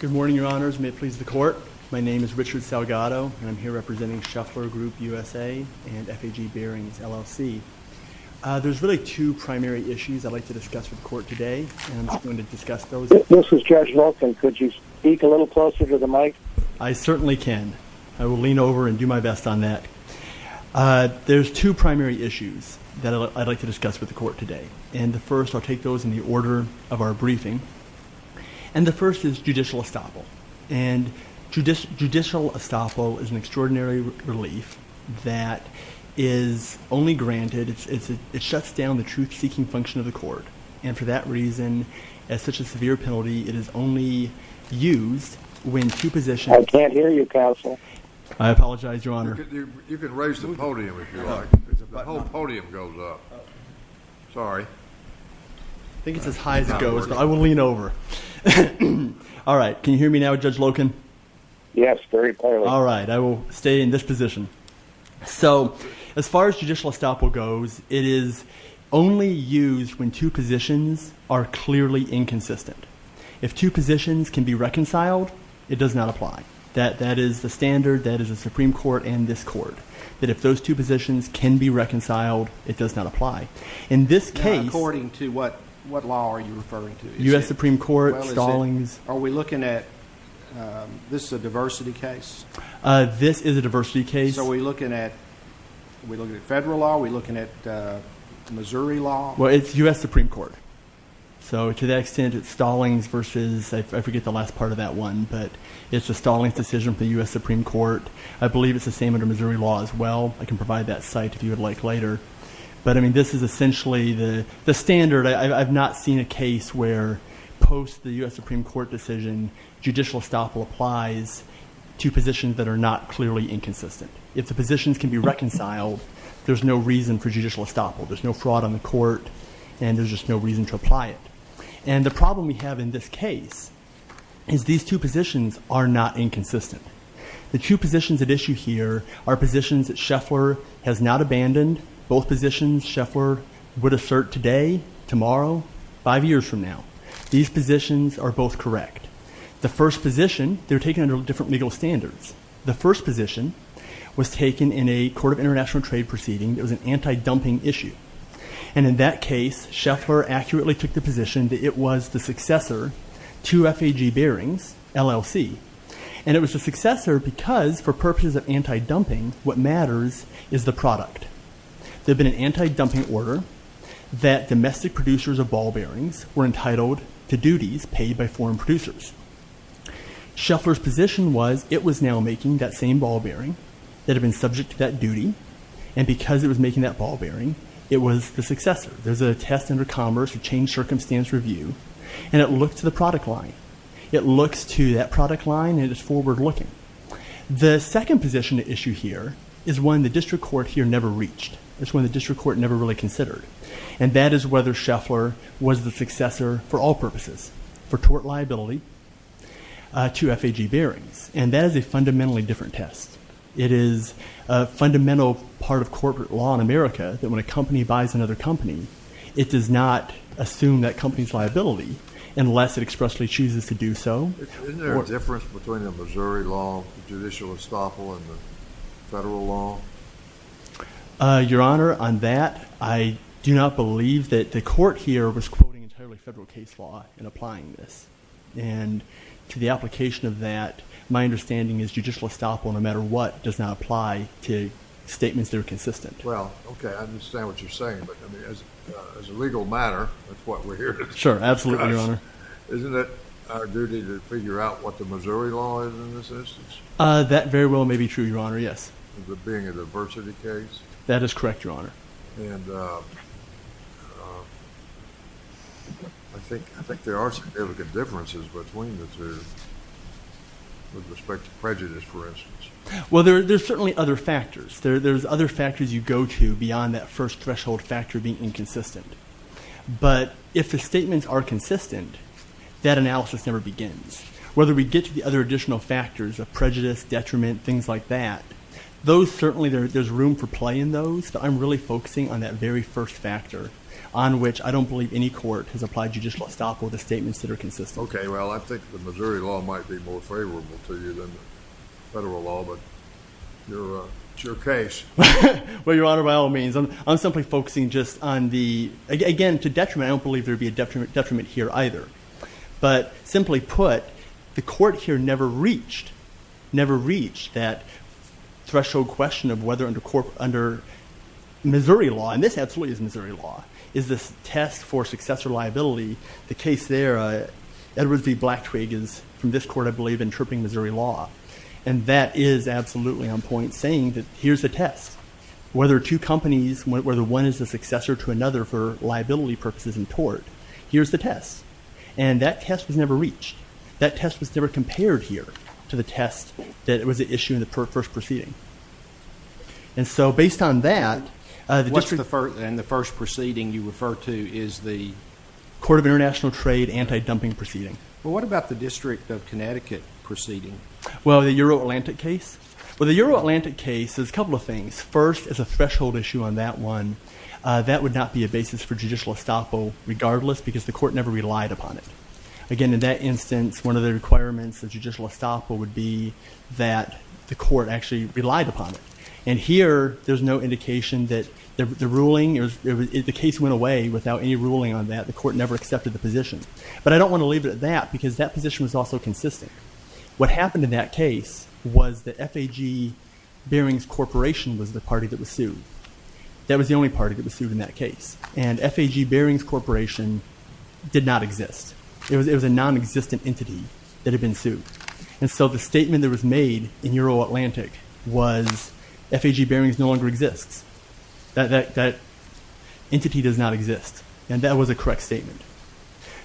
Good morning, your honors. May it please the court. My name is Richard Salgado, and I'm here representing Shuffler Group USA and FAG Bearings, LLC. There's really two primary issues I'd like to discuss with the court today, and I'm just going to discuss those. This is Judge Loken. Could you speak a little closer to the mic? I certainly can. I will lean over and do my best on that. There's two primary issues that I'd like to discuss with the court today, and the first, I'll take those in the order of our briefing, and the first is judicial estoppel. And judicial estoppel is an extraordinary relief that is only granted, it shuts down the truth-seeking function of the court, and for that reason, as such a severe penalty, it is only used when two positions- I can't hear you, counsel. I apologize, your honor. You can raise the podium if you like. The whole podium goes up. Sorry. I think it's as high as it goes, but I will lean over. All right, can you hear me now, Judge Loken? Yes, very clearly. All right, I will stay in this position. So, as far as judicial estoppel goes, it is only used when two positions are clearly inconsistent. If two positions can be reconciled, it does not apply. That is the standard that is the Supreme Court and this court, that if those two positions can be reconciled, it does not apply. In this case- According to what law are you referring to? U.S. Supreme Court, Stallings. Are we looking at, this is a diversity case? This is a diversity case. So, are we looking at federal law? Are we looking at Missouri law? Well, it's U.S. Supreme Court. So, to that extent, it's Stallings versus, I forget the last part of that one, but it's a Stallings decision for the U.S. Supreme Court. I believe it's the same under Missouri law as well. I can provide that site if you would like later. But, I mean, this is essentially the standard. I've not seen a case where post the U.S. Supreme Court decision, judicial estoppel applies to positions that are not clearly inconsistent. If the positions can be reconciled, there's no reason for judicial estoppel. There's no fraud on the court and there's just no reason to apply it. And the problem we have in this case is these two positions are not inconsistent. The two positions at issue here are positions that Scheffler has not abandoned. Both positions Scheffler would assert today, tomorrow, five years from now. These positions are both correct. The first position, they're taken under different legal standards. The first position was taken in a court of international trade proceeding. It was an anti-dumping issue. And in that case, Scheffler accurately took the position that it was the successor to FAG Bearings, LLC. And it was the successor because for purposes of anti-dumping, what matters is the product. There'd been an anti-dumping order that domestic producers of ball bearings were entitled to duties paid by foreign producers. Scheffler's position was it was now making that same ball bearing that had been subject to that duty. And because it was making that a test under commerce, a change circumstance review, and it looked to the product line. It looks to that product line and it's forward looking. The second position at issue here is one the district court here never reached. It's one the district court never really considered. And that is whether Scheffler was the successor for all purposes, for tort liability, to FAG Bearings. And that is a fundamentally different test. It is a fundamental part of corporate law in America that when a company buys another company, it does not assume that company's liability unless it expressly chooses to do so. Isn't there a difference between the Missouri law, judicial estoppel, and the federal law? Your Honor, on that, I do not believe that the court here was quoting entirely federal case law in applying this. And to the application of that, my understanding is judicial estoppel no matter what does not apply to statements that are consistent. Well, okay, I understand what you're saying. But as a legal matter, that's what we're here to discuss. Sure, absolutely, Your Honor. Isn't it our duty to figure out what the Missouri law is in this instance? That very well may be true, Your Honor, yes. That is correct, Your Honor. And I think there are significant differences between the two with respect to prejudice, for instance. Well, there's certainly other factors. There's other factors you go to beyond that first threshold factor being inconsistent. But if the statements are consistent, that analysis never begins. Whether we get to the other additional factors of prejudice, detriment, things like that, those certainly, there's room for play in those. But I'm really focusing on that very first factor on which I don't believe any court has applied judicial estoppel to statements that are consistent. Okay, well, I think the Missouri law might be more favorable to you than the federal law, but it's your case. Well, Your Honor, by all means. I'm simply focusing just on the, again, to detriment, I don't believe there'd be a detriment here either. But simply put, the court here never reached, never reached that threshold question of whether under Missouri law, and this absolutely is Missouri law, is this test for successor liability. The case there, Edward B. Black Twigg is, from this court I believe, interpreting Missouri law. And that is absolutely on point saying that here's the test. Whether two companies, whether one is a successor to another for liability purposes and tort, here's the test. And that test was never reached. That test was never compared here to the test that was at issue in the first proceeding. And so based on that, the district What's the first, and the first proceeding you refer to is the Court of International Trade Anti-Dumping Proceeding. Well, what about the District of Connecticut proceeding? Well, the Euro-Atlantic case? Well, the Euro-Atlantic case, there's a couple of things. First, as a threshold issue on that one, that would not be a basis for judicial estoppel regardless because the court never relied upon it. Again, in that instance, one of the requirements of judicial estoppel would be that the court actually relied upon it. And here, there's no indication that the ruling, the case went away without any ruling on that. The court never accepted the position. But I don't want to leave it at that because that position was also consistent. What happened in that case was that F.A.G. Bearings Corporation was the party that was sued. That was the only party that was sued in that case. And F.A.G. Bearings Corporation did not exist. It was a non-existent entity that had been sued. And so the statement that was made in Euro-Atlantic was F.A.G. Bearings no longer exists. That entity does not exist. And that was a correct statement.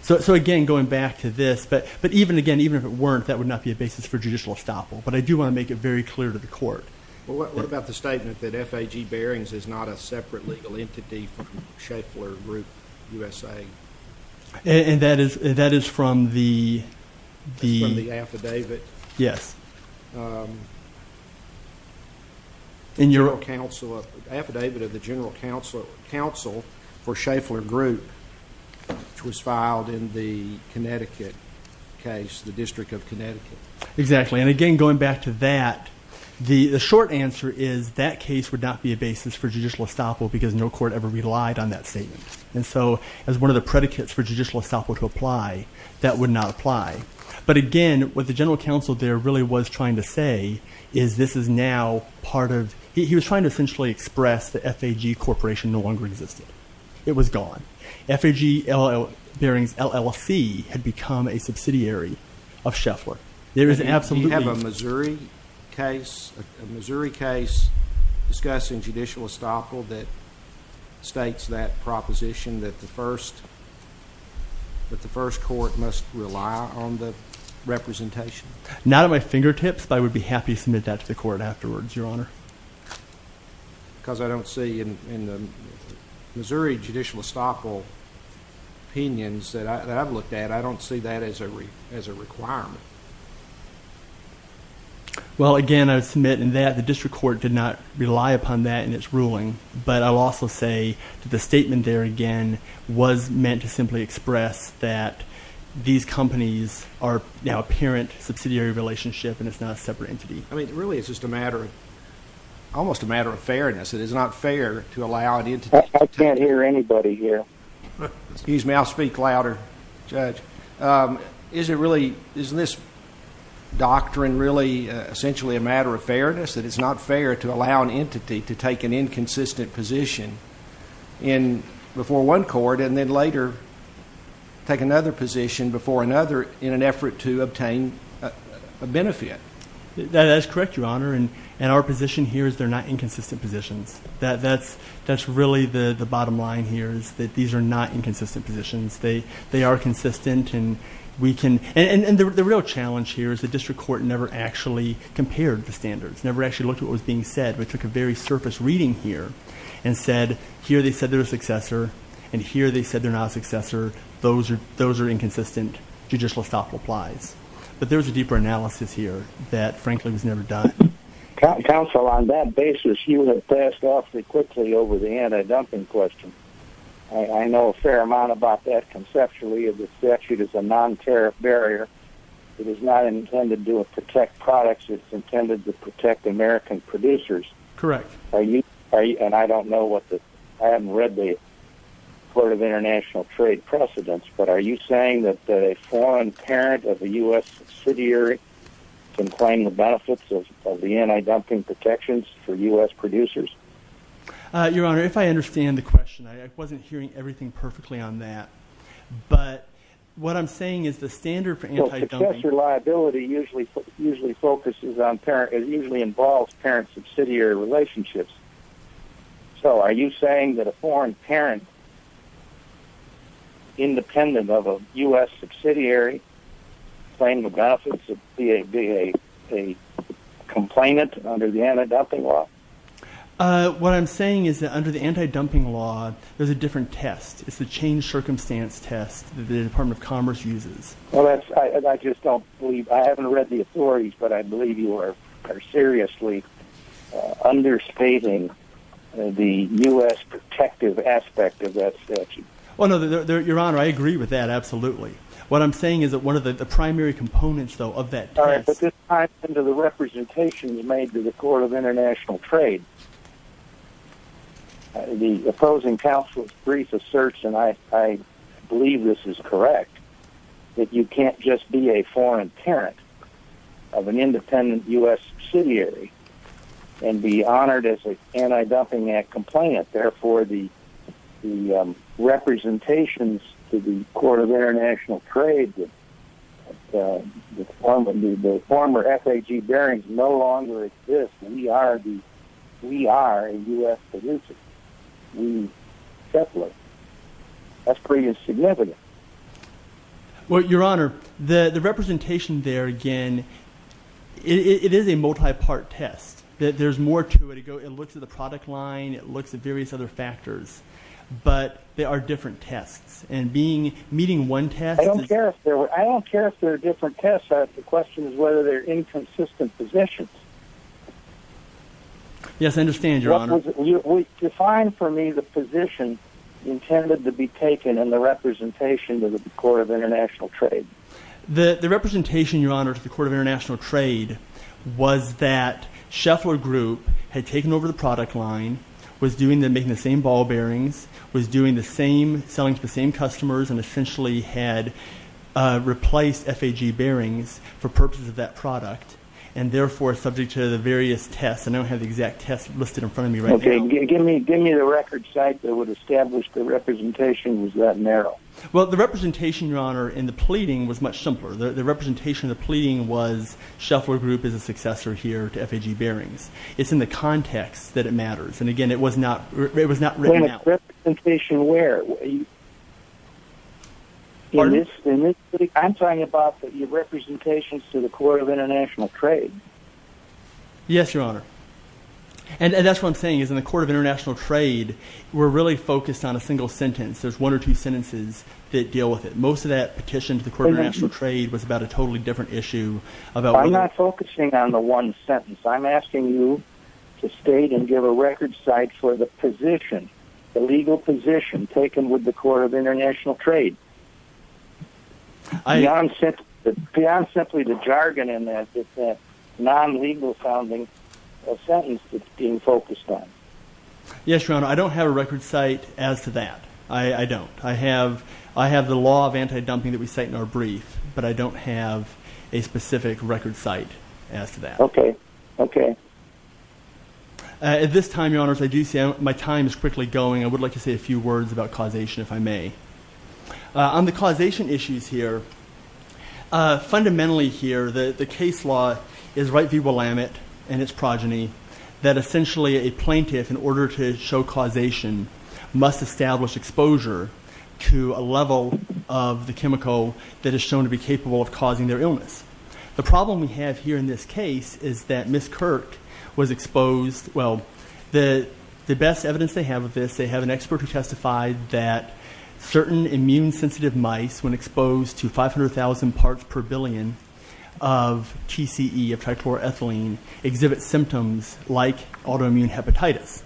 So again, going back to this, but even again, even if it weren't, that would not be a basis for judicial estoppel. But I do want to make it very clear to the court. Well, what about the statement that F.A.G. Bearings is not a separate legal entity from Schaeffler Group, U.S.A.? And that is, that is from the, the... That's from the affidavit? Yes. In your... The affidavit of the General Counsel for Schaeffler Group, which was filed in the Connecticut case, the District of Connecticut. Exactly. And again, going back to that, the short answer is that case would not be a basis for judicial estoppel because no court ever relied on that statement. And so as one of the predicates for judicial estoppel to apply, that would not apply. But again, what the General Counsel there really was trying to say is this is now part of... He was trying to essentially express that F.A.G. Corporation no longer existed. It was gone. F.A.G. Bearings LLC had become a subsidiary of Schaeffler. There is absolutely... Do you have a Missouri case, a Missouri case discussed in judicial estoppel that states that proposition that the first, that the first court must rely on the representation? Not at my fingertips, but I would be happy to submit that to the court afterwards, Your Honor. Because I don't see in the Missouri judicial estoppel opinions that I've looked at, I don't see that as a requirement. Well, again, I would submit in that the district court did not rely upon that in its ruling, but I'll also say that the statement there again was meant to simply express that these companies are now a parent subsidiary relationship and it's not a separate entity. I mean, really it's just a matter of, almost a matter of fairness. It is not fair to allow an entity... I can't hear anybody here. Excuse me, I'll speak louder, Judge. Is it really, isn't this doctrine really essentially a matter of fairness that it's not fair to allow an entity to take an inconsistent position in before one court and then later take another position before another in an effort to obtain a benefit? That is correct, Your Honor. And our position here is they're not inconsistent positions. That's really the bottom line here is that these are not inconsistent positions. They are consistent and we can... And the real challenge here is the district court never actually compared the standards, never actually looked at what was being said. We took a very surface reading here and said, here they said they're a successor and here they said they're not a successor. Those are inconsistent judicial estoppel applies. But there's a deeper analysis here that frankly was never done. Counsel, on that basis, you have passed awfully quickly over the anti-dumping question. I know a fair amount about that conceptually. The statute is a non-tariff barrier. It is not intended to protect products. It's intended to protect American producers. Correct. Are you, and I don't know what the, I haven't read the Court of International Trade precedents, but are you saying that a foreign parent of a U.S. subsidiary can claim the benefits of the anti-dumping protections for U.S. producers? Your Honor, if I understand the question, I wasn't hearing everything perfectly on that, but what I'm saying is the standard for anti-dumping... Well, successor liability usually focuses on parent, it usually involves parent-subsidiary relationships. So are you saying that a foreign parent independent of a U.S. subsidiary claim the benefits of being a complainant under the anti-dumping law? What I'm saying is that under the anti-dumping law, there's a different test. It's the change circumstance test that the Department of Commerce uses. Well, that's, I just don't believe, I haven't read the authorities, but I believe you are seriously understating the U.S. protective aspect of that statute. Well, no, Your Honor, I agree with that, absolutely. What I'm saying is that one of the primary components, though, of that test... All right, but this time under the representations made to the Court of International Trade, the opposing counsel's brief asserts, and I believe this is correct, that you can't just be a foreign parent of an independent U.S. subsidiary and be honored as an anti-dumping act complainant. Therefore, the representations to the Court of International Trade, the former F.A.G. Barings, no longer exist. We are a U.S. producer. That's pretty insignificant. Well, Your Honor, the representation there, again, it is a multi-part test. There's more to it. It looks at the product line. It looks at various other factors, but they are different tests, and meeting one test... I don't care if they're different tests. The question is whether they're inconsistent positions. Yes, I understand, Your Honor. Define for me the position intended to be taken and the representation to the Court of International Trade. The representation, Your Honor, to the Court of International Trade was that Shuffler Group had taken over the product line, was making the same ball bearings, was selling to the same customers, and essentially had replaced F.A.G. Barings for purposes of that product, and subject to the various tests. I don't have the exact tests listed in front of me right now. Okay. Give me the record site that would establish the representation was that narrow. Well, the representation, Your Honor, in the pleading was much simpler. The representation of the pleading was Shuffler Group is a successor here to F.A.G. Barings. It's in the context that it matters, and again, it was not written out. The representation where? I'm talking about the representations to the Court of International Trade. Yes, Your Honor. And that's what I'm saying is in the Court of International Trade, we're really focused on a single sentence. There's one or two sentences that deal with it. Most of that petition to the Court of International Trade was about a totally different issue. I'm not focusing on the one sentence. I'm asking you to state and give a record site for the position, the legal position taken with the Court of International Trade. Beyond simply the jargon in that, it's that non-legal founding of sentence that's being focused on. Yes, Your Honor. I don't have a record site as to that. I don't. I have the law of anti-dumping that we cite in our brief, but I don't have a specific record site as to that. Okay. Okay. At this time, Your Honor, as I do say, my time is quickly going. I would like to say a few words about causation, if I may. On the causation issues here, fundamentally here, the case law is right v. Willamette and its progeny, that essentially a plaintiff, in order to show causation, must establish exposure to a level of the chemical that is shown to be capable of causing their illness. The problem we have here in this case is that Curtis Kirk was exposed, well, the best evidence they have of this, they have an expert who testified that certain immune-sensitive mice, when exposed to 500,000 parts per billion of TCE, of trichloroethylene, exhibit symptoms like autoimmune hepatitis.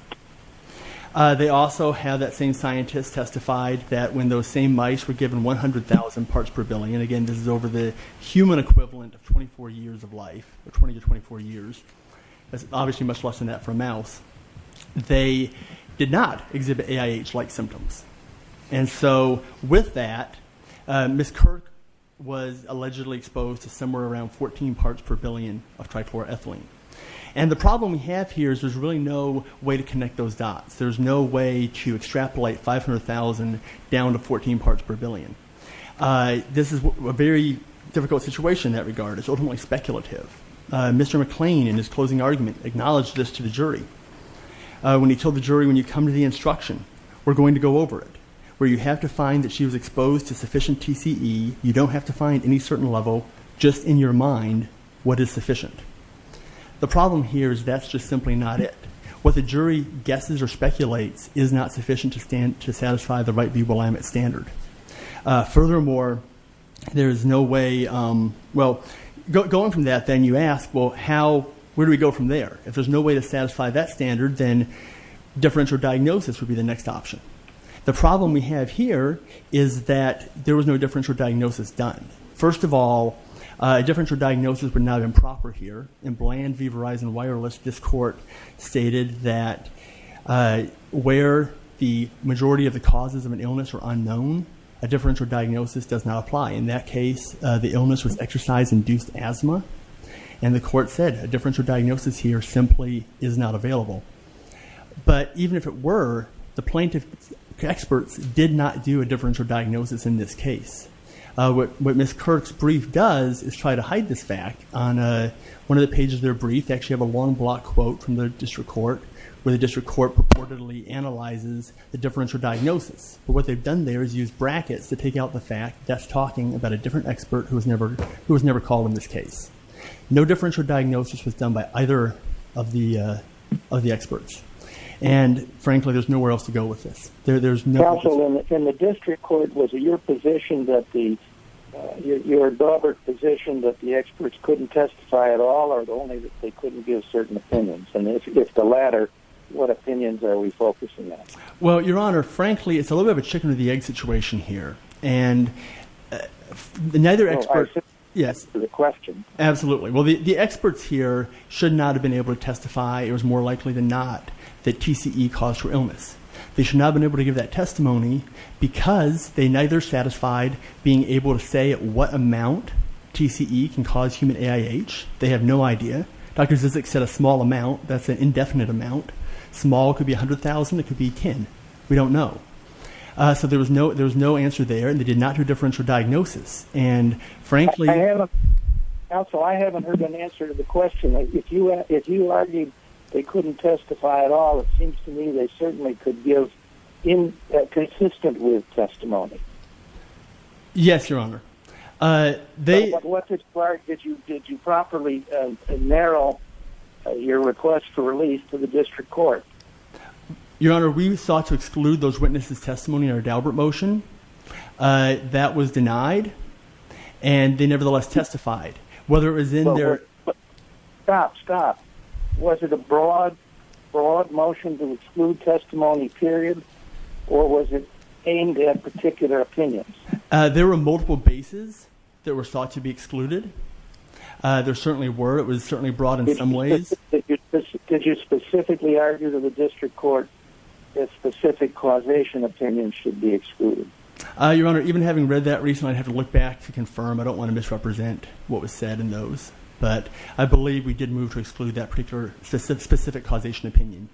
They also have that same scientist testified that when those same mice were given 100,000 parts per billion, again, this is over the human equivalent of 24 years of life, 20 to 24 years. That's obviously much less than that for a mouse. They did not exhibit AIH-like symptoms. And so with that, Ms. Kirk was allegedly exposed to somewhere around 14 parts per billion of trichloroethylene. And the problem we have here is there's really no way to connect those dots. There's no way to extrapolate 500,000 down to 14 parts per billion. This is a very difficult situation in that regard. It's ultimately speculative. Mr. McLean, in his closing argument, acknowledged this to the jury when he told the jury, when you come to the instruction, we're going to go over it, where you have to find that she was exposed to sufficient TCE, you don't have to find any certain level, just in your mind, what is sufficient. The problem here is that's just simply not it. What the jury guesses or speculates is not sufficient to satisfy the way, well, going from that, then you ask, well, how, where do we go from there? If there's no way to satisfy that standard, then differential diagnosis would be the next option. The problem we have here is that there was no differential diagnosis done. First of all, a differential diagnosis would not have been proper here. In Bland v. Verizon Wireless, this court stated that where the majority of the causes of an illness are unknown, a differential diagnosis does not the illness was exercise-induced asthma, and the court said a differential diagnosis here simply is not available. But even if it were, the plaintiff's experts did not do a differential diagnosis in this case. What Ms. Kirk's brief does is try to hide this fact. On one of the pages of their brief, they actually have a long block quote from the district court, where the district court purportedly analyzes the differential diagnosis. But what they've done there is use brackets to who was never called in this case. No differential diagnosis was done by either of the experts. And frankly, there's nowhere else to go with this. Also, in the district court, was it your position that the experts couldn't testify at all, or only that they couldn't give certain opinions? And if the latter, what opinions are we focusing on? Well, Your Honor, frankly, it's a little bit of a chicken or the egg situation here. And the experts here should not have been able to testify. It was more likely than not that TCE caused her illness. They should not have been able to give that testimony because they neither satisfied being able to say what amount TCE can cause human AIH. They have no idea. Dr. Zizek said a small amount. That's an indefinite amount. Small could be $100,000. It could be $10,000. We don't know. So there was no answer there, and they did not do differential diagnosis. And frankly... Counsel, I haven't heard an answer to the question. If you argued they couldn't testify at all, it seems to me they certainly could give consistent with testimony. Yes, Your Honor. But what part did you properly narrow your request to release to the district court? Your Honor, we sought to exclude those witnesses' testimony in our Daubert motion. That was denied, and they nevertheless testified. Whether it was in their... Stop, stop. Was it a broad motion to exclude testimony, period, or was it aimed at particular opinions? There were multiple bases that were sought to be excluded. There certainly were. It was certainly broad in some ways. Did you specifically argue to the district court that specific causation opinions should be excluded? Your Honor, even having read that recently, I'd have to look back to confirm. I don't want to misrepresent what was said in those, but I believe we did move to exclude that specific causation opinion.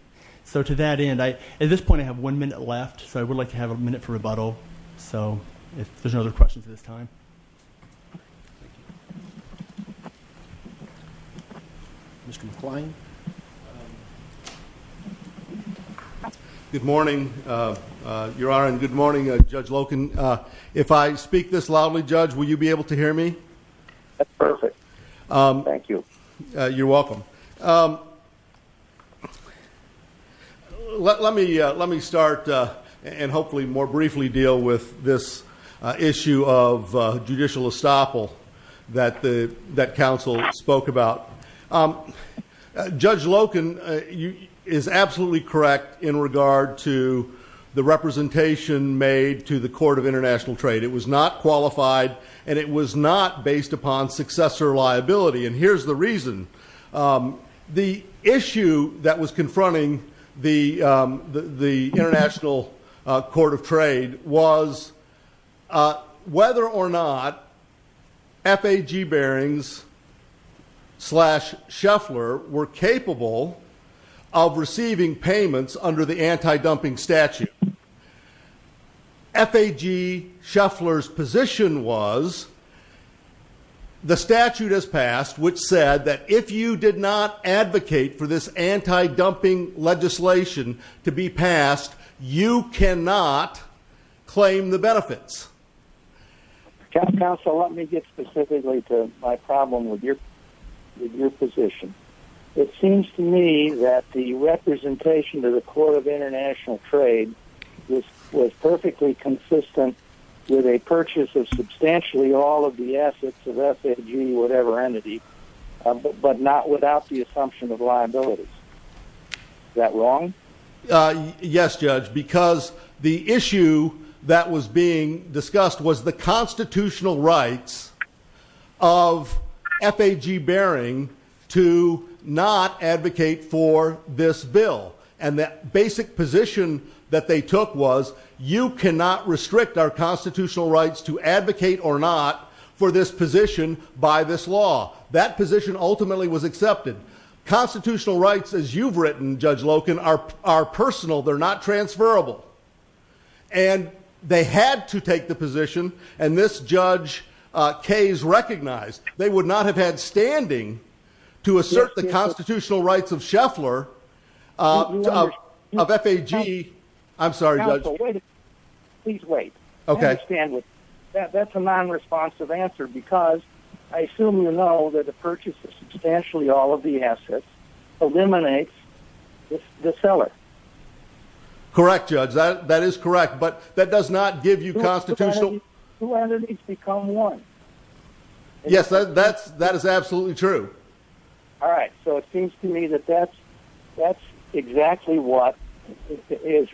So to that end, at this point I have one minute left, so I would like to have a minute for rebuttal, if there's no other questions at this time. Mr. McClain. Good morning, Your Honor, and good morning, Judge Loken. If I speak this loudly, Judge, will you be able to hear me? Perfect. Thank you. You're welcome. Let me start and hopefully more briefly deal with this issue of judicial estoppel that counsel spoke about. Judge Loken is absolutely correct in regard to the representation made to the Court of International Trade. It was not qualified, and it was not based upon successor liability, and here's the reason. The issue that was confronting the International Court of Trade was whether or not FAG bearings slash shuffler were capable of receiving payments under the anti-dumping statute. FAG shuffler's position was the statute has passed, which said that if you did not advocate for this anti-dumping legislation to be passed, you cannot claim the benefits. Counsel, let me get specifically to my problem with your position. It seems to me that the representation to the Court of International Trade was perfectly consistent with a purchase of substantially all of the assets of FAG, whatever entity, but not without the assumption of liabilities. Is that wrong? Yes, Judge, because the issue that was being discussed was the constitutional rights of FAG bearing to not advocate for this bill, and that basic position that they took was you cannot restrict our constitutional rights to advocate or not for this position by this law. That position ultimately was accepted. Constitutional rights, as you've written, Judge Loken, are personal. They're not transferable, and they had to take the position, and this Judge Kayes recognized they would not have had standing to assert the I'm sorry, Judge. Please wait. Okay. That's a non-responsive answer because I assume you know that a purchase of substantially all of the assets eliminates the seller. Correct, Judge. That is correct, but that does not give you constitutional... Two entities become one. Yes, that is absolutely true. All right, so it seems to me that that's exactly what is...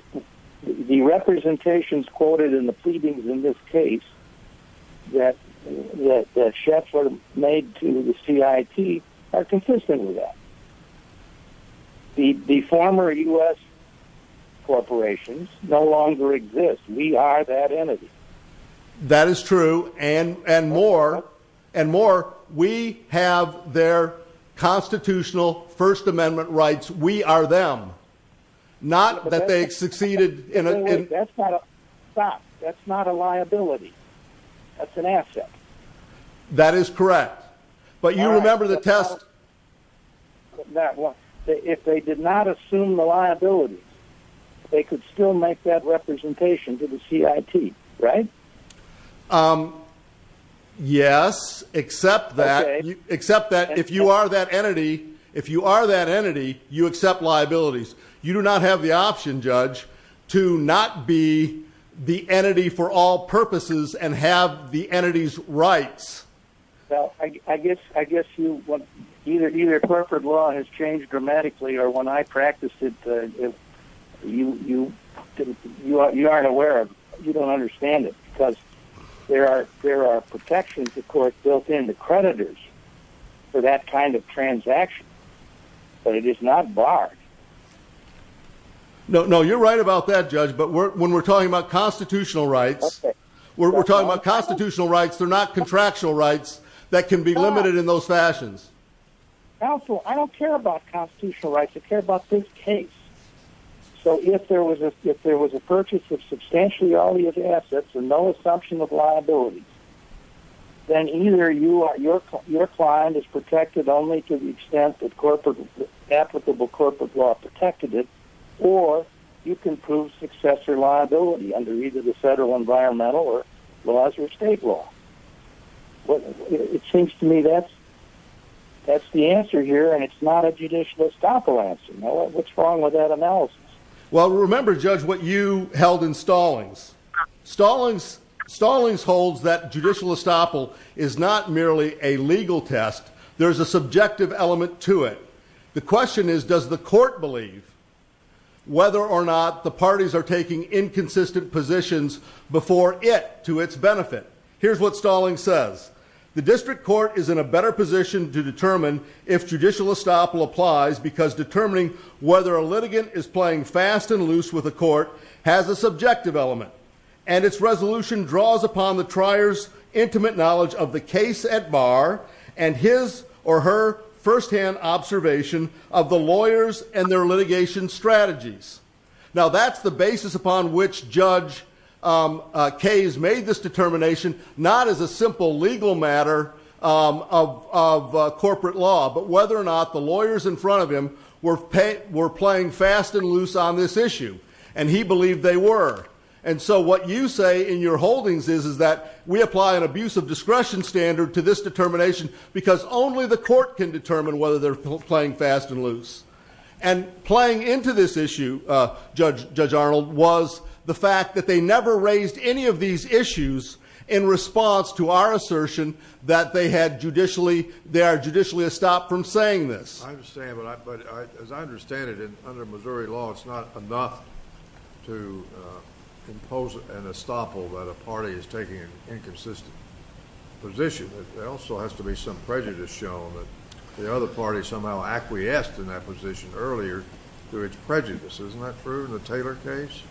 The representations quoted in the pleadings in this case that Schaeffler made to the CIT are consistent with that. The former U.S. corporations no longer exist. We are that entity. That is true, and more. We have their succeeded in... That's not a liability. That's an asset. That is correct, but you remember the test... If they did not assume the liability, they could still make that representation to the CIT, right? Yes, except that if you are that entity, you accept liabilities. You do not have the option, Judge, to not be the entity for all purposes and have the entity's rights. Well, I guess you... Either corporate law has changed dramatically or when I practiced it, you aren't aware of... You don't understand it because there are protections, of course, built into creditors for that kind of transaction, but it is not barred. No, you're right about that, Judge, but when we're talking about constitutional rights, we're talking about constitutional rights. They're not contractual rights that can be limited in those fashions. Counselor, I don't care about constitutional rights. I care about this case. So if there was a purchase of substantially early assets and no assumption of liabilities, then either your client is protected only to the extent that applicable corporate law protected it, or you can prove successor liability under either the federal environmental or laws or state law. It seems to me that's the answer here and it's not a judicial estoppel answer. What's wrong with that analysis? Well, remember, Judge, what you held in Stallings. Stallings holds that judicial estoppel is not merely a legal test. There's a subjective element to it. The question is, does the court believe whether or not the parties are taking inconsistent positions before it to its benefit? Here's what Stallings says. The district court is in a better position to determine if judicial estoppel applies because determining whether a litigant is playing fast and loose with a court has a subjective element and its resolution draws upon the observation of the lawyers and their litigation strategies. Now, that's the basis upon which Judge Kays made this determination, not as a simple legal matter of corporate law, but whether or not the lawyers in front of him were playing fast and loose on this issue. And he believed they were. And so what you say in your holdings is that we apply an abuse of discretion standard to this determination because only the court can determine whether they're playing fast and loose. And playing into this issue, Judge Arnold, was the fact that they never raised any of these issues in response to our assertion that they are judicially estopped from saying this. I understand, but as I understand it, under Missouri law, it's not enough to impose an inconsistent position. There also has to be some prejudice shown that the other party somehow acquiesced in that position earlier to its prejudice. Isn't that true in the Taylor case?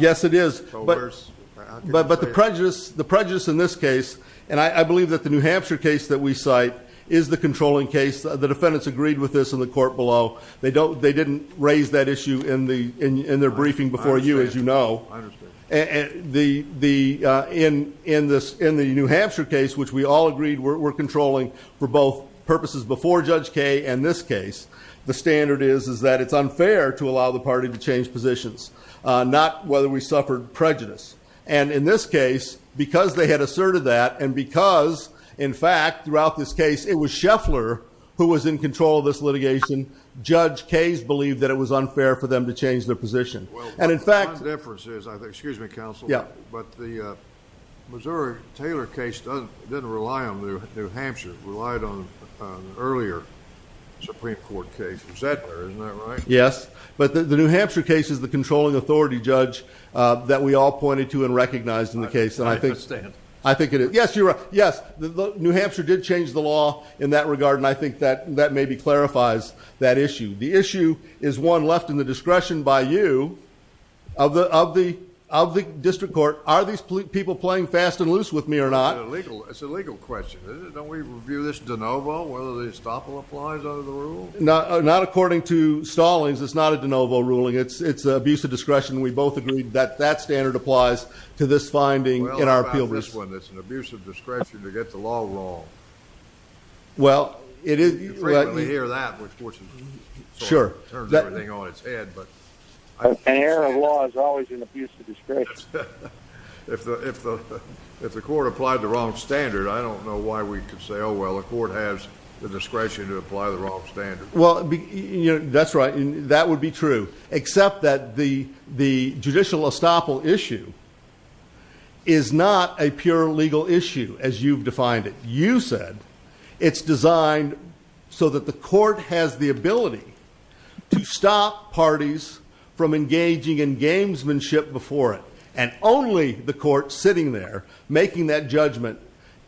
Yes, it is. But the prejudice in this case, and I believe that the New Hampshire case that we cite is the controlling case. The defendants agreed with this in the court below. They didn't raise that issue in their briefing before you, as you know. In the New Hampshire case, which we all agreed were controlling for both purposes before Judge Kaye and this case, the standard is that it's unfair to allow the party to change positions, not whether we suffered prejudice. And in this case, because they had asserted that, and because, in fact, throughout this case, it was Scheffler who was in control of this litigation, Judge Kaye's believed that it was unfair for them to change their position. And in fact, the difference is, excuse me, counsel, but the Missouri Taylor case didn't rely on New Hampshire. It relied on an earlier Supreme Court case. Is that right? Yes, but the New Hampshire case is the controlling authority, Judge, that we all pointed to and recognized in the case. I think it is. Yes, you're right. Yes, New Hampshire did change the law in that regard, and I think that maybe clarifies that issue. The issue is one left in the discretion by you of the district court. Are these people playing fast and loose with me or not? It's a legal question. Don't we review this de novo, whether the estoppel applies under the rule? Not according to Stallings. It's not a de novo ruling. It's abuse of discretion. We both agreed that that standard applies to this finding in our appeal. Well, how about this one? It's an error of law. You frequently hear that, which unfortunately turns everything on its head. An error of law is always an abuse of discretion. If the court applied the wrong standard, I don't know why we could say, oh, well, the court has the discretion to apply the wrong standard. Well, that's right. That would be true, except that the judicial estoppel issue is not a pure legal issue, as you've defined it. You said it's designed so that the court has the ability to stop parties from engaging in gamesmanship before it, and only the court sitting there making that judgment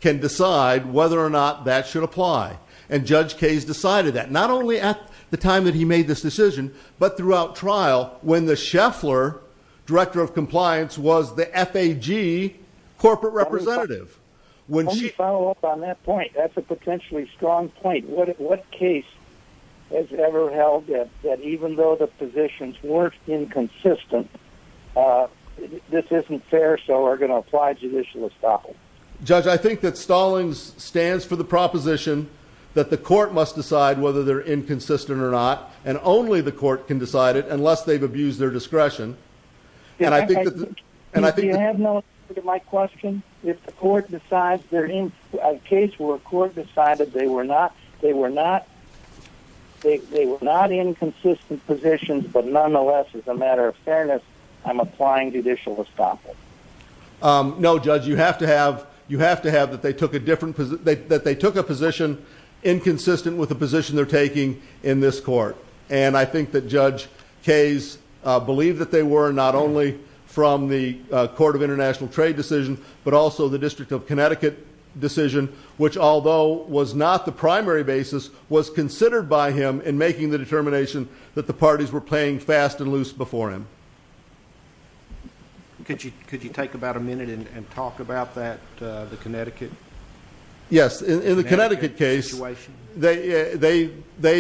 can decide whether or not that should apply. And Judge Kayes decided that, not only at the time that he made this decision, but throughout trial when the Scheffler Director of Compliance was the F.A.G. Corporate Representative. Let me follow up on that point. That's a potentially strong point. What case has ever held that even though the positions weren't inconsistent, this isn't fair, so we're going to apply judicial estoppel? Judge, I think that Stallings stands for the proposition that the court must decide whether they're inconsistent or not, and only the court can decide it unless they've abused their discretion. And I think that... Do you have an answer to my question? If the court decides they're inconsistent... If a case where a court decided they were not inconsistent positions, but nonetheless, as a matter of fairness, I'm applying judicial estoppel? No, Judge. You have to have that they took a position inconsistent with the position they're not only from the Court of International Trade decision, but also the District of Connecticut decision, which although was not the primary basis, was considered by him in making the determination that the parties were playing fast and loose before him. Could you take about a minute and talk about that, the Connecticut? Yes. In the Connecticut case, they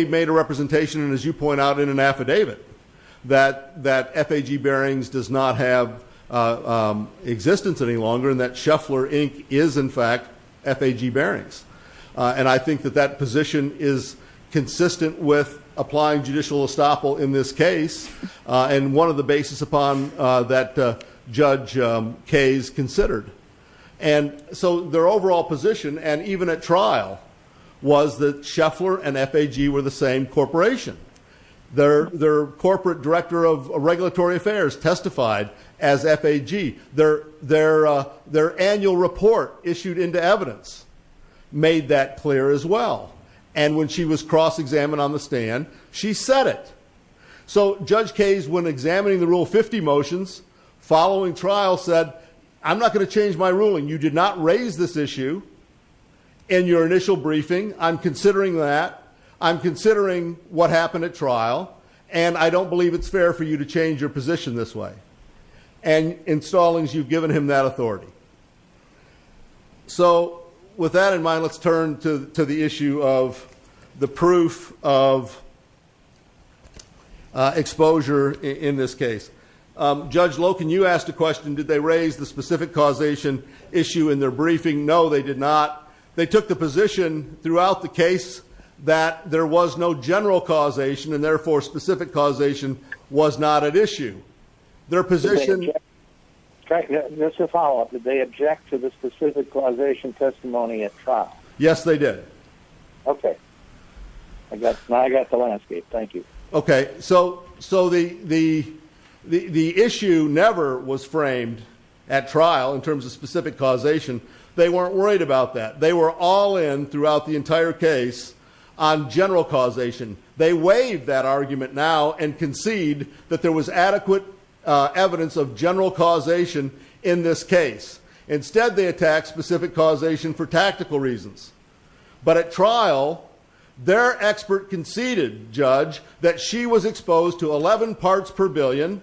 made a representation, and as you point out in an does not have existence any longer, and that Sheffler, Inc. is, in fact, FAG Barings. And I think that that position is consistent with applying judicial estoppel in this case, and one of the basis upon that Judge Kaye's considered. And so their overall position, and even at trial, was that Sheffler and FAG were the same corporation. Their corporate director of regulatory affairs testified as FAG. Their annual report issued into evidence made that clear as well, and when she was cross-examined on the stand, she said it. So Judge Kaye's, when examining the Rule 50 motions following trial, said, I'm not going to change my ruling. You did not raise this issue in your initial briefing. I'm considering that. I'm considering what happened at trial, and I don't believe it's fair for you to change your position this way. And in Stallings, you've given him that authority. So with that in mind, let's turn to the issue of the proof of exposure in this case. Judge Loken, you asked a question. Did they raise the specific causation issue in their briefing? No, they did not. They took the position throughout the case that there was no general causation, and therefore, specific causation was not at issue. Their position... Just a follow-up. Did they object to the specific causation testimony at trial? Yes, they did. Okay. Now I got the landscape. Thank you. Okay. So the issue never was framed at trial in terms of specific causation. They weren't worried about that. They were all in throughout the entire case on general causation. They waived that argument now and concede that there was adequate evidence of general causation in this case. Instead, they attacked specific causation for tactical reasons. But at trial, their expert conceded, Judge, that she was exposed to 11 parts per billion,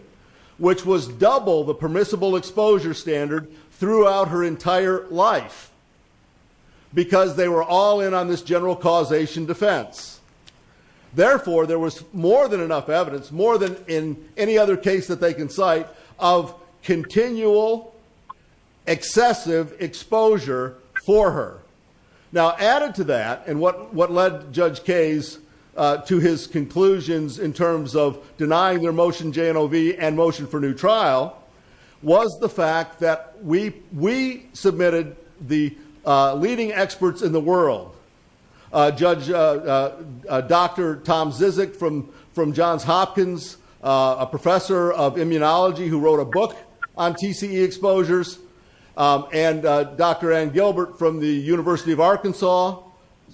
which was double the permissible exposure standard throughout her entire life, because they were all in on this general causation defense. Therefore, there was more than enough evidence, more than in any other case that they can cite, of continual excessive exposure for her. Now, added to that, and what led Judge Kayes to his conclusions in terms of denying their motion JNOV and motion for new trial, was the fact that we submitted the leading experts in the world. Judge Dr. Tom Zizek from Johns Hopkins, a professor of immunology who wrote a book on TCE exposures, and Dr. Ann Gilbert from the University of Arkansas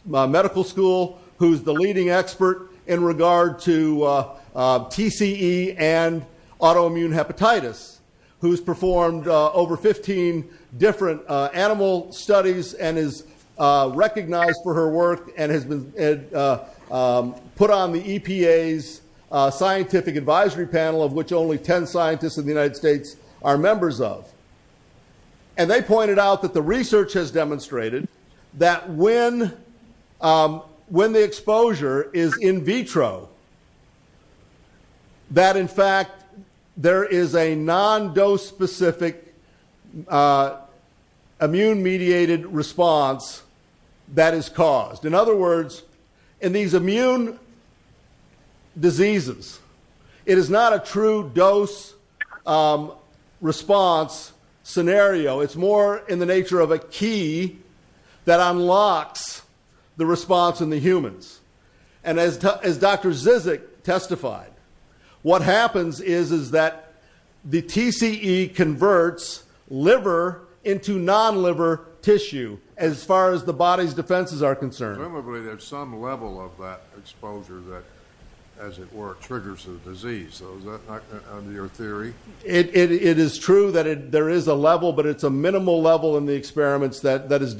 Medical School, who's the leading expert in regard to TCE and autoimmune hepatitis, who's performed over 15 different animal studies and is recognized for her work and has been put on the EPA's scientific advisory panel, of which only 10 scientists in the United States are members of. They pointed out that the research has demonstrated that when the exposure is in vitro, that, in fact, there is a non-dose-specific immune-mediated response that is caused. In other words, in these immune diseases, it is not a true dose response scenario. It's more in the nature of a key that unlocks the response in the humans. And as Dr. Zizek testified, what happens is that the TCE converts liver into non-liver tissue, as far as the body's defenses are concerned. Presumably, there's some level of that exposure that, as it were, triggers a disease. So is that not under your theory? It is true that there is a level, but it's a minimal level in the experiments that is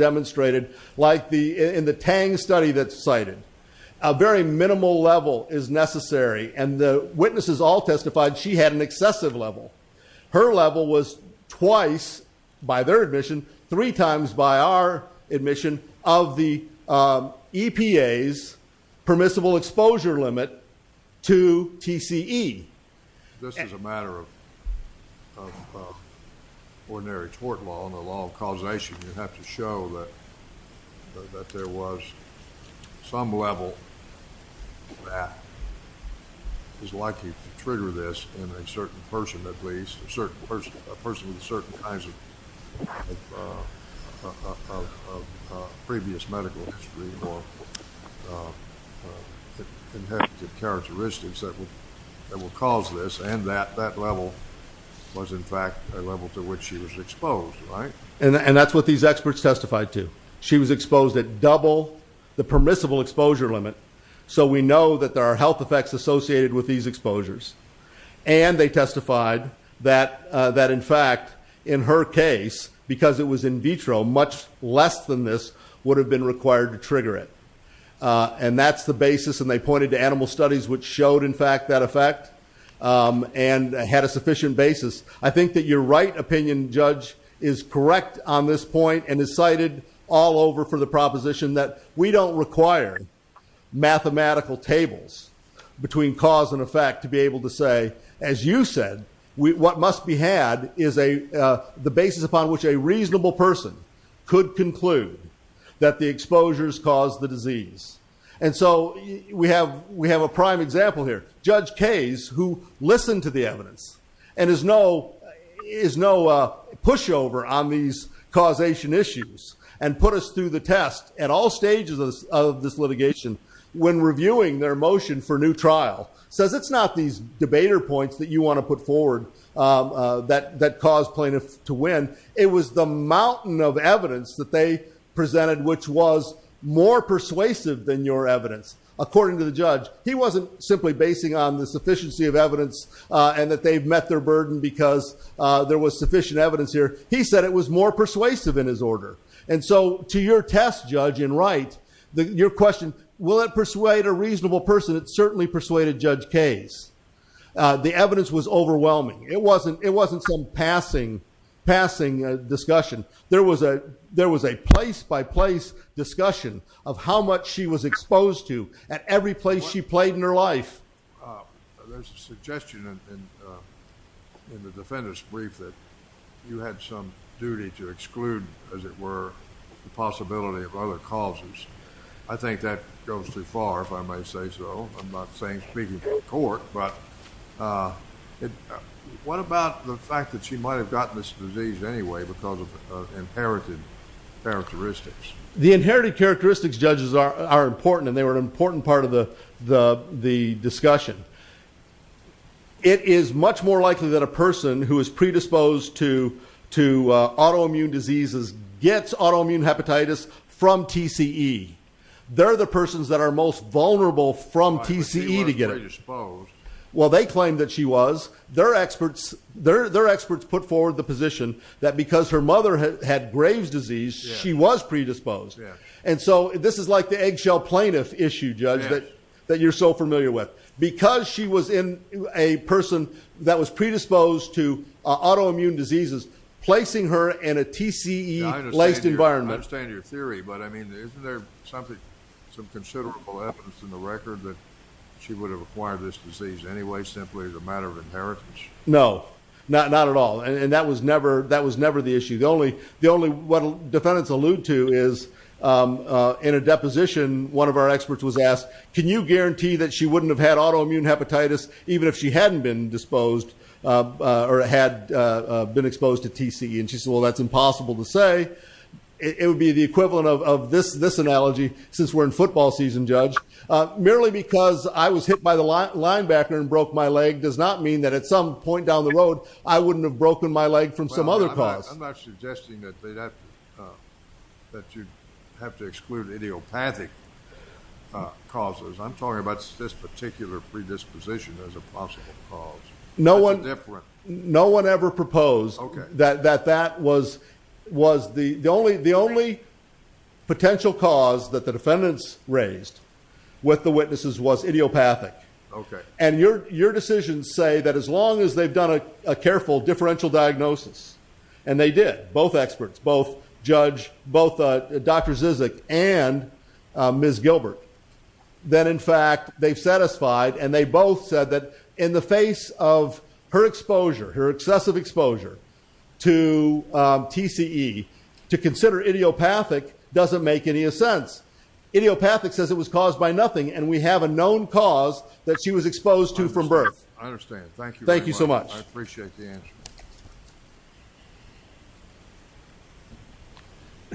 cited. A very minimal level is necessary, and the witnesses all testified she had an excessive level. Her level was twice, by their admission, three times by our admission of the EPA's permissible exposure limit to TCE. This is a matter of ordinary tort law and the law of causation. You have to show that there was some level that is likely to trigger this in a certain person, at least, a person with certain kinds of previous medical history or inherent characteristics that will cause this. And that level was, in fact, a level to which she was exposed, right? And that's what these experts testified to. She was exposed at double the permissible exposure limit, so we know that there are health effects associated with these exposures. And they testified that, in fact, in her case, because it was in vitro, much less than this would have been required to trigger it. And that's the basis, and they pointed to animal studies which showed, in fact, that effect and had a sufficient basis. I think that your right opinion, Judge, is correct on this point and is cited all over for the proposition that we don't require mathematical tables between cause and effect to be able to say, as you said, what must be had is the basis upon which a reasonable person could conclude that the exposures caused the disease. And so we have a prime example here. Judge Case, who listened to the evidence and is no pushover on these causation issues and put us through the test at all stages of this litigation when reviewing their motion for new trial, says it's not these debater points that you want to put forward that cause plaintiffs to win. It was the mountain of evidence that they presented which was more persuasive than your evidence. According to the judge, he wasn't simply basing on the sufficiency of evidence and that they've met their burden because there was sufficient evidence here. He said it was more persuasive in his order. And so to your test, Judge, in right, your question, will it persuade a reasonable person, it certainly persuaded Judge Case. The evidence was overwhelming. It wasn't some passing discussion. There was a place-by-place discussion of how much she was exposed to at every place she played in her life. There's a suggestion in the defendant's brief that you had some duty to exclude, as it were, the possibility of other causes. I think that goes too far, if I may say so. I'm not saying speaking for the court, but what about the fact that she might have gotten this disease anyway because of inherited characteristics? The inherited characteristics, Judges, are important and they discussion. It is much more likely that a person who is predisposed to autoimmune diseases gets autoimmune hepatitis from TCE. They're the persons that are most vulnerable from TCE to get it. Well, they claim that she was. Their experts put forward the position that because her mother had Graves' disease, she was predisposed. And so this is like the eggshell plaintiff issue, Judge, that you're so familiar with. Because she was in a person that was predisposed to autoimmune diseases, placing her in a TCE-laced environment. I understand your theory, but I mean, isn't there something, some considerable evidence in the record that she would have acquired this disease anyway simply as a matter of inheritance? No, not at all. And that was never the issue. The only, what defendants allude to is in a deposition, one of our experts was asked, can you guarantee that she wouldn't have had autoimmune hepatitis even if she hadn't been disposed or had been exposed to TCE? And she said, well, that's impossible to say. It would be the equivalent of this analogy since we're in football season, Judge. Merely because I was hit by the linebacker and broke my leg does not mean that at some point you have to exclude idiopathic causes. I'm talking about this particular predisposition as a possible cause. No one ever proposed that that was the only potential cause that the defendants raised with the witnesses was idiopathic. And your decisions say that as long as they've done a careful differential diagnosis, and they did both experts, both judge, both Dr. Zizek and Ms. Gilbert, then in fact, they've satisfied and they both said that in the face of her exposure, her excessive exposure to TCE to consider idiopathic doesn't make any sense. Idiopathic says it was caused by nothing. And we have a known cause that she was exposed to from birth. I understand. Thank you. Thank you so much. I appreciate the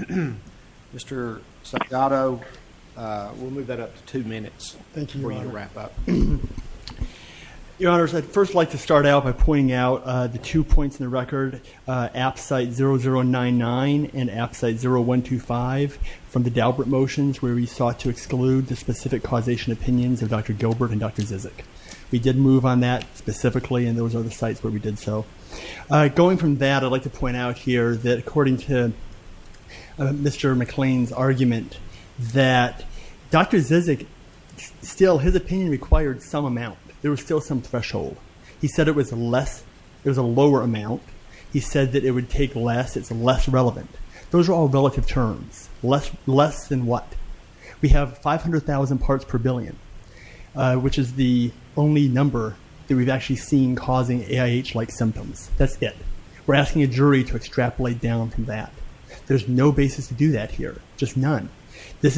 answer. Mr. Saldado, we'll move that up to two minutes. Thank you for your wrap up. Your honors, I'd first like to start out by pointing out the two points in the record, app site 0099 and app site 0125 from the Daubert motions where we sought to exclude the specific causation opinions of Dr. Gilbert and Dr. Zizek. We did move on that specifically and those are the sites where we did so. Going from that, I'd like to point out here that according to Mr. McLean's argument that Dr. Zizek, still his opinion required some amount. There was still some threshold. He said it was a lower amount. He said that it would take less. It's less relevant. Those are all relative terms. Less than what? We have 500,000 parts per billion, which is the only number that we've actually seen causing AIH-like symptoms. That's it. We're asking a jury to extrapolate down from that. There's no basis to do that here. Just none. There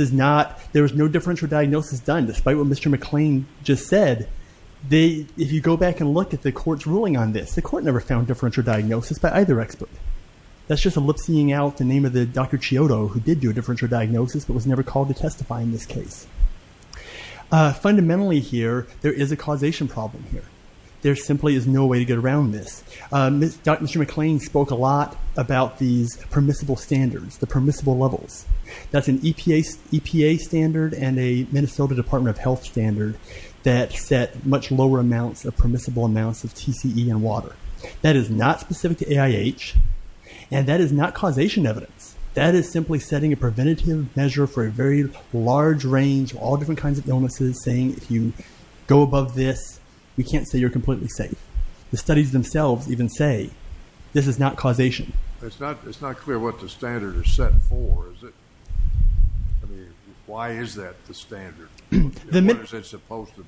was no differential diagnosis done despite what Mr. McLean just said. If you go back and look at the court's ruling on this, the court never found differential diagnosis by either expert. That's just a lip-seeing out the name of the Dr. Chiodo who did do a differential diagnosis but was never called to testify in this case. Fundamentally here, there is a causation problem here. There simply is no way to get around this. Dr. McLean spoke a lot about these permissible standards, the permissible levels. That's an EPA standard and a Minnesota Department of Health standard that set much lower amounts of permissible amounts of TCE and water. That is not specific to and that is not causation evidence. That is simply setting a preventative measure for a very large range of all different kinds of illnesses saying if you go above this, we can't say you're completely safe. The studies themselves even say this is not causation. It's not clear what the standard is set for, is it? Why is that the standard? What is it supposed to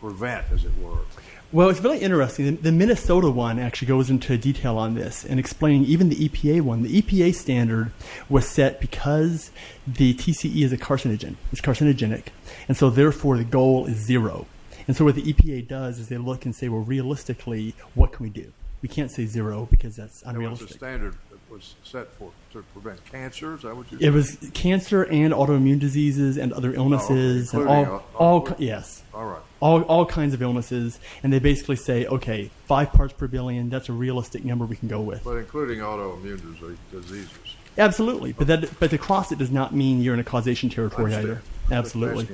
prevent, as it the Minnesota one actually goes into detail on this and explaining even the EPA one. The EPA standard was set because the TCE is a carcinogen. It's carcinogenic. Therefore, the goal is zero. What the EPA does is they look and say, realistically, what can we do? We can't say zero because that's unrealistic. There was a standard that was set to prevent cancers. It was cancer and autoimmune diseases and other illnesses. All kinds of illnesses. They basically say, okay, five parts per billion, that's a realistic number we can go with. But including autoimmune diseases. Absolutely. But to cross it does not mean you're in a causation territory either. Absolutely.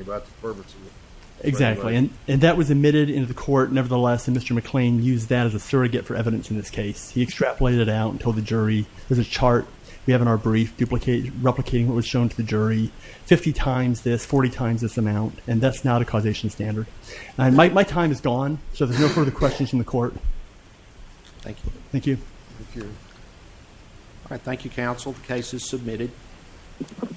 Exactly. That was admitted into the court. Nevertheless, Mr. McLean used that as a surrogate for evidence in this case. He extrapolated it out and told the jury, there's a chart we have in our brief duplicating what was shown to the jury, 50 times this, 40 times this amount. That's not a causation standard. My time is gone. There's no further questions from the court. Thank you. All right. Thank you, counsel. The case is submitted.